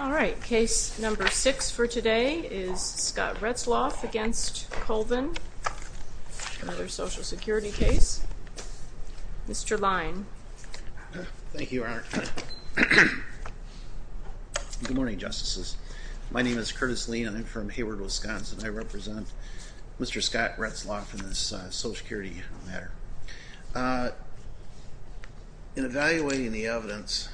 All right, case number six for today is Scott Retzloff v. Colvin, another Social Security case. Mr. Lein. Thank you, Your Honor. Good morning, Justices. My name is Curtis Lein. I'm from Hayward, Wisconsin. I represent Mr. Scott Retzloff in this Social Security matter. In evaluating the evidence,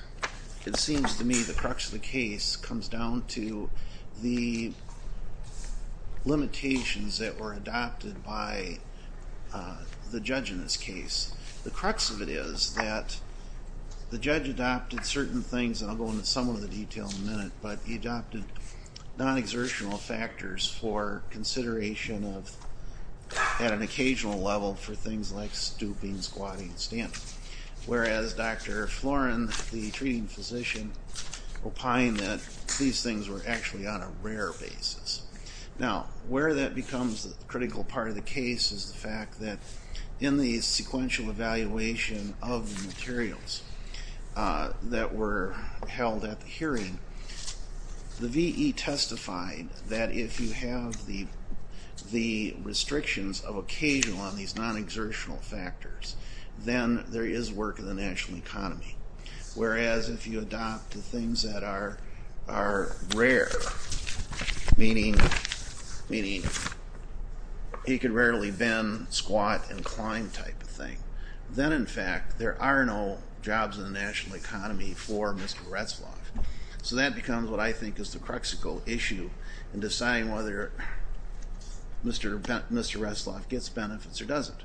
it seems to me the crux of the case comes down to the limitations that were adopted by the judge in this case. The crux of it is that the judge adopted certain things, and I'll go into some of the detail in a minute, but he adopted non-exertional factors for consideration at an occasional level for things like stooping, squatting, and standing. Whereas Dr. Florin, the treating physician, opined that these things were actually on a rare basis. Now, where that becomes a critical part of the case is the fact that in the sequential evaluation of the materials that were held at the hearing, the V.E. testified that if you have the restrictions of occasional on these non-exertional factors, then there is work in the national economy. Whereas if you adopt the things that are rare, meaning he could rarely bend, squat, and climb type of thing, then in fact there are no jobs in the national economy for Mr. Retzloff. So that becomes what I think is the cruxical issue in deciding whether Mr. Retzloff gets benefits or doesn't.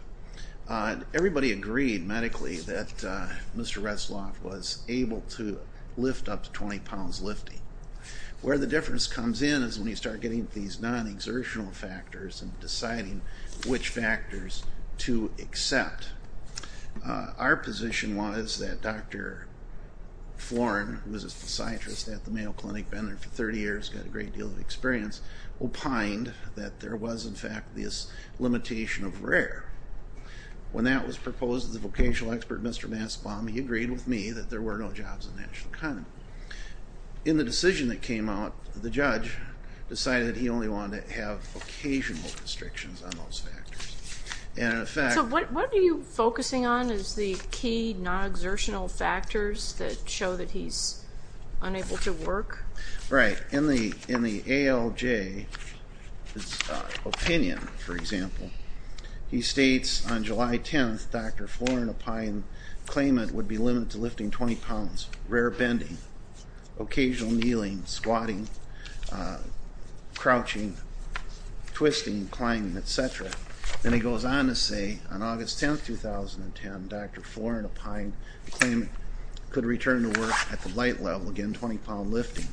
Everybody agreed medically that Mr. Retzloff was able to lift up to 20 pounds lifting. Where the difference comes in is when you start getting these non-exertional factors and deciding which factors to accept. Our position was that Dr. Florin, who was a psychiatrist at the Mayo Clinic, been there for 30 years, got a great deal of experience, opined that there was in fact this limitation of rare. When that was proposed, the vocational expert, Mr. Mastbaum, he agreed with me that there were no jobs in the national economy. In the decision that came out, the judge decided he only wanted to have occasional restrictions on those factors. So what are you focusing on as the key non-exertional factors that show that he's unable to work? Right. In the ALJ's opinion, for example, he states on July 10th, Dr. Florin opined claimant would be limited to lifting 20 pounds, rare bending, occasional kneeling, squatting, crouching, twisting, climbing, etc. And he goes on to say on August 10th, 2010, Dr. Florin opined claimant could return to work at the light level, again 20 pound lifting,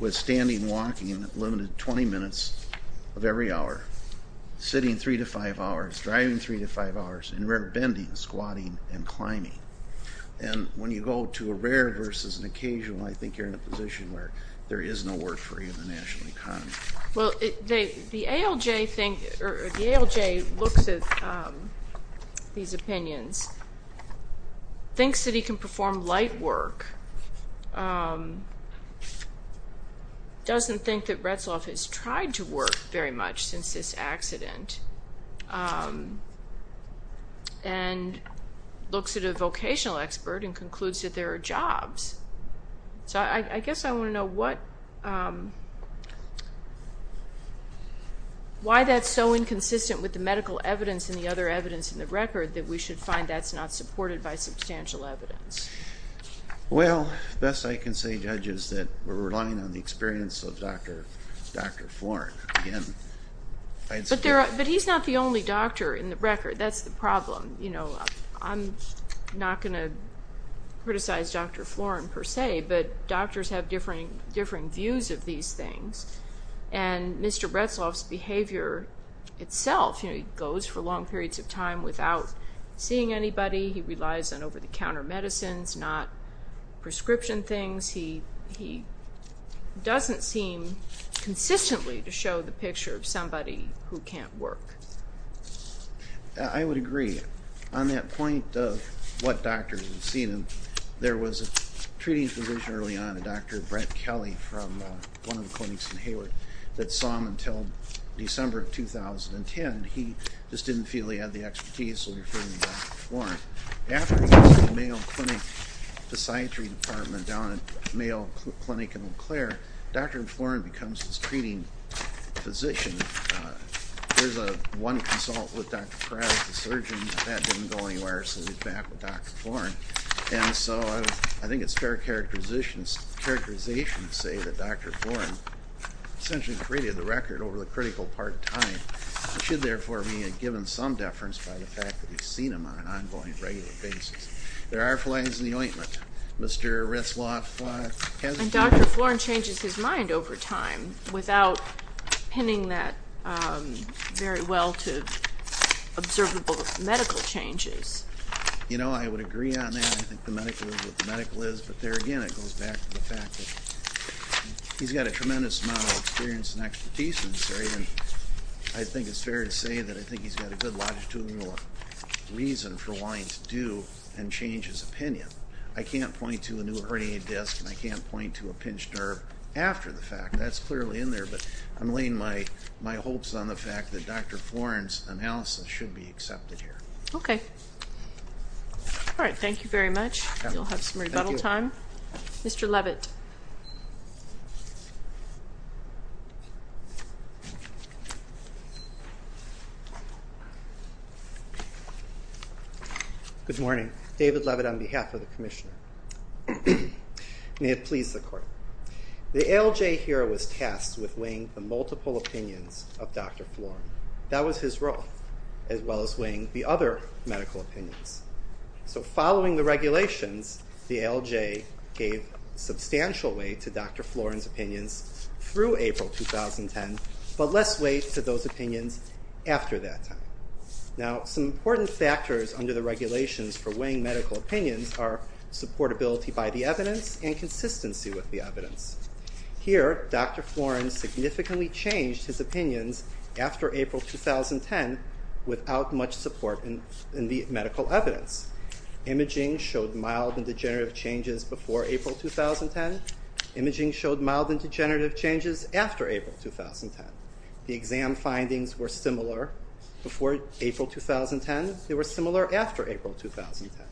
with standing, walking, limited 20 minutes of every hour, sitting 3-5 hours, driving 3-5 hours, and rare bending, squatting, and climbing. And when you go to a rare versus an occasional, I think you're in a position where there is no work for you in the national economy. Well, the ALJ looks at these opinions, thinks that he can perform light work, doesn't think that Retzeloff has tried to work very much since this accident, and looks at a vocational expert and concludes that there are jobs. So I guess I want to know why that's so inconsistent with the medical evidence and the other evidence in the record that we should find that's not supported by substantial evidence. Well, best I can say, Judge, is that we're relying on the experience of Dr. Florin. But he's not the only doctor in the record, that's the problem. I'm not going to criticize Dr. Florin per se, but doctors have differing views of these things, and Mr. Retzeloff's behavior itself, he goes for long periods of time without seeing anybody, he relies on over-the-counter medicines, not prescription things. He doesn't seem consistently to show the picture of somebody who can't work. I would agree. On that point of what doctors have seen him, there was a treating physician early on, a Dr. Brent Kelly from one of the clinics in Hayward, that saw him until December of 2010. He just didn't feel he had the expertise, so he referred him to Dr. Florin. After he left the male clinic, the psychiatry department down at the male clinic in Eau Claire, Dr. Florin becomes his treating physician. There's one consult with Dr. Perez, the surgeon, that didn't go anywhere, so he's back with Dr. Florin. I think it's fair characterization to say that Dr. Florin essentially created the record over the critical part time. He should, therefore, be given some deference by the fact that he's seen him on an ongoing, regular basis. There are flaws in the ointment. Mr. Retzeloff has a view. Dr. Florin changes his mind over time without pinning that very well to observable medical changes. You know, I would agree on that. I think the medical is what the medical is, but there again, it goes back to the fact that he's got a tremendous amount of experience and expertise in this area. I think it's fair to say that I think he's got a good longitudinal reason for wanting to do and change his opinion. I can't point to a new hernia disc, and I can't point to a pinched nerve after the fact. That's clearly in there, but I'm laying my hopes on the fact that Dr. Florin's analysis should be accepted here. Okay. All right, thank you very much. You'll have some rebuttal time. Mr. Levitt. Good morning. David Levitt on behalf of the Commissioner. May it please the Court. The ALJ here was tasked with weighing the multiple opinions of Dr. Florin. That was his role, as well as weighing the other medical opinions. So following the regulations, the ALJ gave substantial weight to Dr. Florin's opinions through April 2010, but less weight to those opinions after that time. Now, some important factors under the regulations for weighing medical opinions are supportability by the evidence and consistency with the evidence. Here, Dr. Florin significantly changed his opinions after April 2010 without much support in the medical evidence. Imaging showed mild and degenerative changes before April 2010. Imaging showed mild and degenerative changes after April 2010. The exam findings were similar before April 2010. They were similar after April 2010.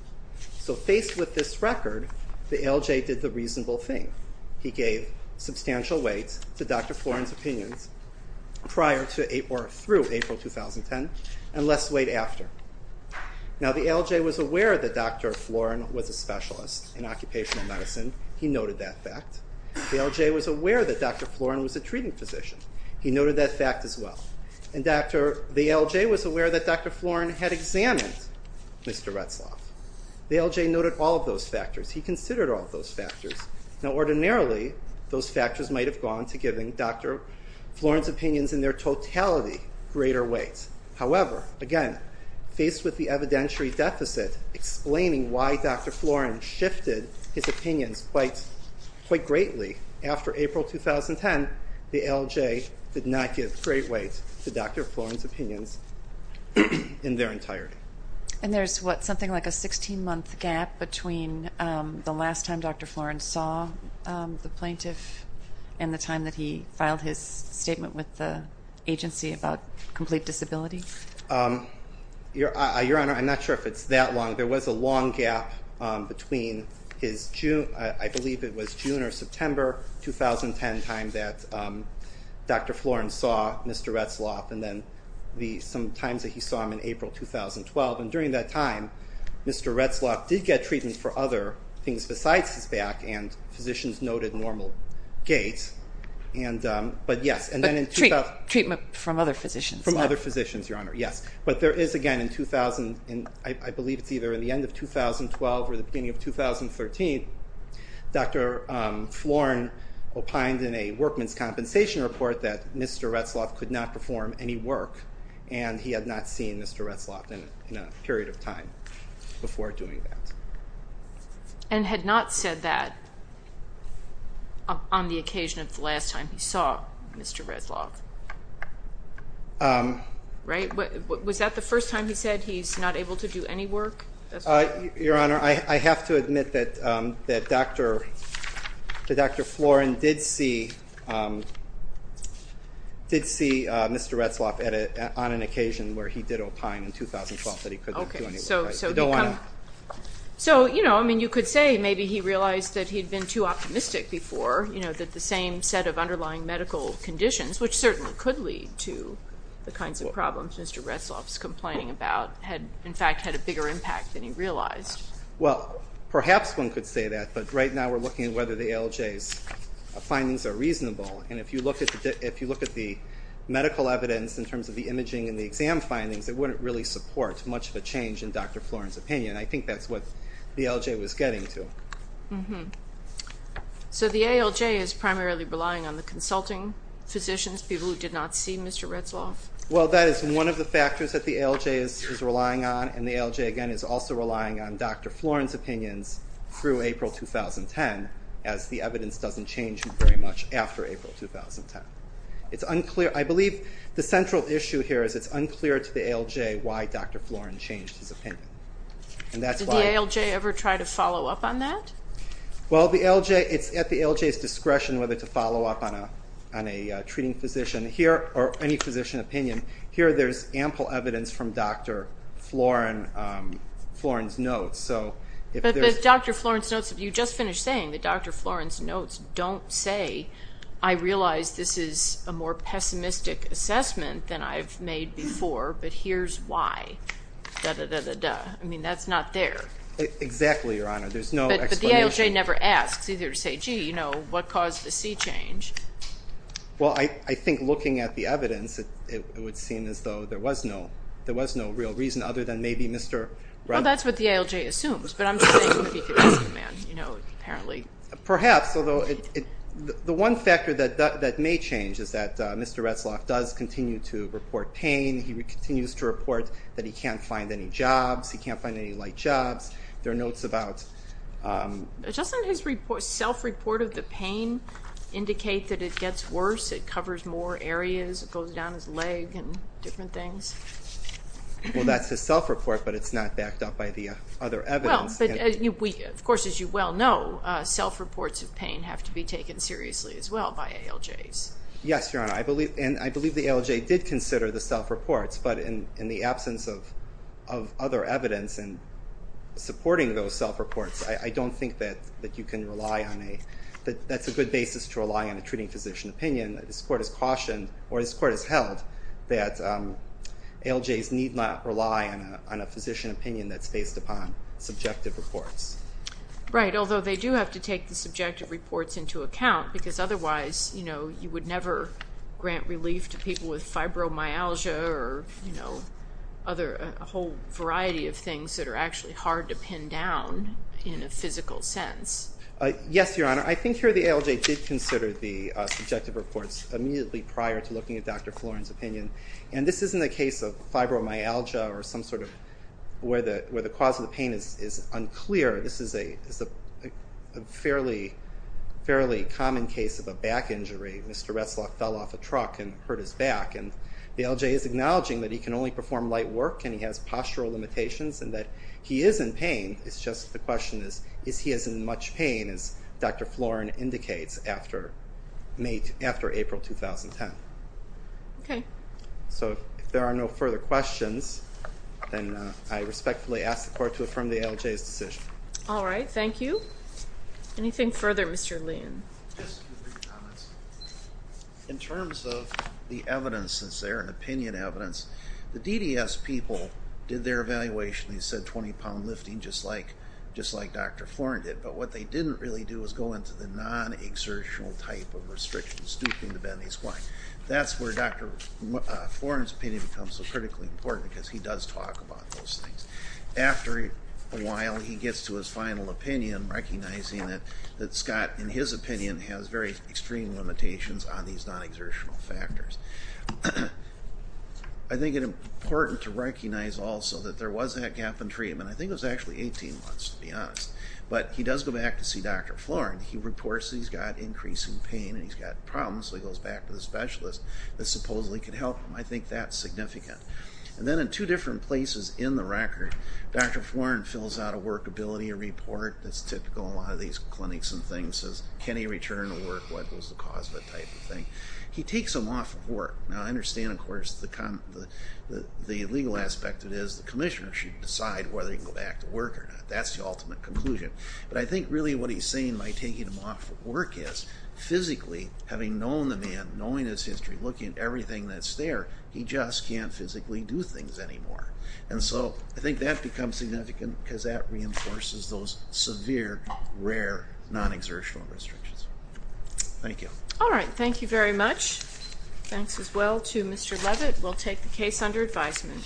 So faced with this record, the ALJ did the reasonable thing. He gave substantial weight to Dr. Florin's opinions prior to or through April 2010, and less weight after. Now, the ALJ was aware that Dr. Florin was a specialist in occupational medicine. He noted that fact. The ALJ was aware that Dr. Florin was a treating physician. He noted that fact as well. And the ALJ was aware that Dr. Florin had examined Mr. Retzlaff. The ALJ noted all of those factors. He considered all of those factors. Now, ordinarily, those factors might have gone to giving Dr. Florin's opinions in their totality greater weight. However, again, faced with the evidentiary deficit explaining why Dr. Florin shifted his opinions quite greatly after April 2010, the ALJ did not give great weight to Dr. Florin's opinions in their entirety. And there's what, something like a 16-month gap between the last time Dr. Florin saw the plaintiff and the time that he filed his statement with the agency about complete disability? Your Honor, I'm not sure if it's that long. There was a long gap between his June, I believe it was June or September 2010 time that Dr. Florin saw Mr. Retzlaff and then some times that he saw him in April 2012. And during that time, Mr. Retzlaff did get treatment for other things besides his back, and physicians noted normal gaits. But yes, and then in 2012. Treatment from other physicians. From other physicians, Your Honor, yes. But there is, again, in 2000, I believe it's either in the end of 2012 or the beginning of 2013, Dr. Florin opined in a workman's compensation report that Mr. Retzlaff could not perform any work and he had not seen Mr. Retzlaff in a period of time before doing that. And had not said that on the occasion of the last time he saw Mr. Retzlaff. Right, was that the first time he said he's not able to do any work? Your Honor, I have to admit that Dr. Florin did see Mr. Retzlaff on an occasion where he did opine in 2012 that he couldn't do any work. So, you know, you could say maybe he realized that he'd been too optimistic before, you know, that the same set of underlying medical conditions, which certainly could lead to the kinds of problems Mr. Retzlaff is complaining about, had in fact had a bigger impact than he realized. Well, perhaps one could say that, but right now we're looking at whether the ALJ's findings are reasonable. And if you look at the medical evidence in terms of the imaging and the exam findings, it wouldn't really support much of a change in Dr. Florin's opinion. I think that's what the ALJ was getting to. So the ALJ is primarily relying on the consulting physicians, people who did not see Mr. Retzlaff? Well, that is one of the factors that the ALJ is relying on, and the ALJ, again, is also relying on Dr. Florin's opinions through April 2010, as the evidence doesn't change very much after April 2010. I believe the central issue here is it's unclear to the ALJ why Dr. Florin changed his opinion. Did the ALJ ever try to follow up on that? Well, it's at the ALJ's discretion whether to follow up on a treating physician here or any physician opinion. Here there's ample evidence from Dr. Florin's notes. But Dr. Florin's notes, you just finished saying that Dr. Florin's notes don't say, I realize this is a more pessimistic assessment than I've made before, but here's why, da-da-da-da-da. I mean, that's not there. Exactly, Your Honor. There's no explanation. But the ALJ never asks, either to say, gee, you know, what caused the C change? Well, I think looking at the evidence, it would seem as though there was no real reason other than maybe Mr. Retzlaff. Well, that's what the ALJ assumes, but I'm just saying it would be for this man, you know, apparently. Perhaps, although the one factor that may change is that Mr. Retzlaff does continue to report pain. He continues to report that he can't find any jobs. He can't find any light jobs. There are notes about... Doesn't his self-report of the pain indicate that it gets worse, it covers more areas, it goes down his leg and different things? Well, that's his self-report, but it's not backed up by the other evidence. Of course, as you well know, self-reports of pain have to be taken seriously as well by ALJs. Yes, Your Honor, and I believe the ALJ did consider the self-reports, but in the absence of other evidence in supporting those self-reports, I don't think that you can rely on a... that's a good basis to rely on a treating physician opinion. This Court has cautioned or this Court has held that ALJs need not rely on a physician opinion that's based upon subjective reports. Right, although they do have to take the subjective reports into account because otherwise, you know, you would never grant relief to people with fibromyalgia or, you know, other... a whole variety of things that are actually hard to pin down in a physical sense. Yes, Your Honor, I think here the ALJ did consider the subjective reports immediately prior to looking at Dr. Florin's opinion, and this isn't a case of fibromyalgia or some sort of... where the cause of the pain is unclear. This is a fairly common case of a back injury. Mr. Retzlaff fell off a truck and hurt his back, and the ALJ is acknowledging that he can only perform light work and he has postural limitations and that he is in pain. It's just the question is, is he is in much pain as Dr. Florin indicates after April 2010. Okay. So if there are no further questions, then I respectfully ask the Court to affirm the ALJ's decision. All right, thank you. Anything further, Mr. Lein? Just a few quick comments. In terms of the evidence that's there and opinion evidence, the DDS people did their evaluation and said 20-pound lifting just like Dr. Florin did, but what they didn't really do was go into the non-exertional type of restrictions, stooping to bend his spine. That's where Dr. Florin's opinion becomes so critically important because he does talk about those things. After a while, he gets to his final opinion, recognizing that Scott, in his opinion, has very extreme limitations on these non-exertional factors. I think it's important to recognize also that there was that gap in treatment. I think it was actually 18 months, to be honest. But he does go back to see Dr. Florin. He reports that he's got increasing pain and he's got problems, so he goes back to the specialist that supposedly could help him. I think that's significant. And then in two different places in the record, Dr. Florin fills out a workability report. That's typical in a lot of these clinics and things. It says can he return to work, what was the cause of it type of thing. He takes him off of work. Now, I understand, of course, the legal aspect of it is the commissioner should decide whether he can go back to work or not. That's the ultimate conclusion. But I think really what he's saying by taking him off of work is physically, having known the man, knowing his history, looking at everything that's there, he just can't physically do things anymore. And so I think that becomes significant because that reinforces those severe, rare non-exertional restrictions. Thank you. All right. Thank you very much. Thanks as well to Mr. Levitt. We'll take the case under advisement.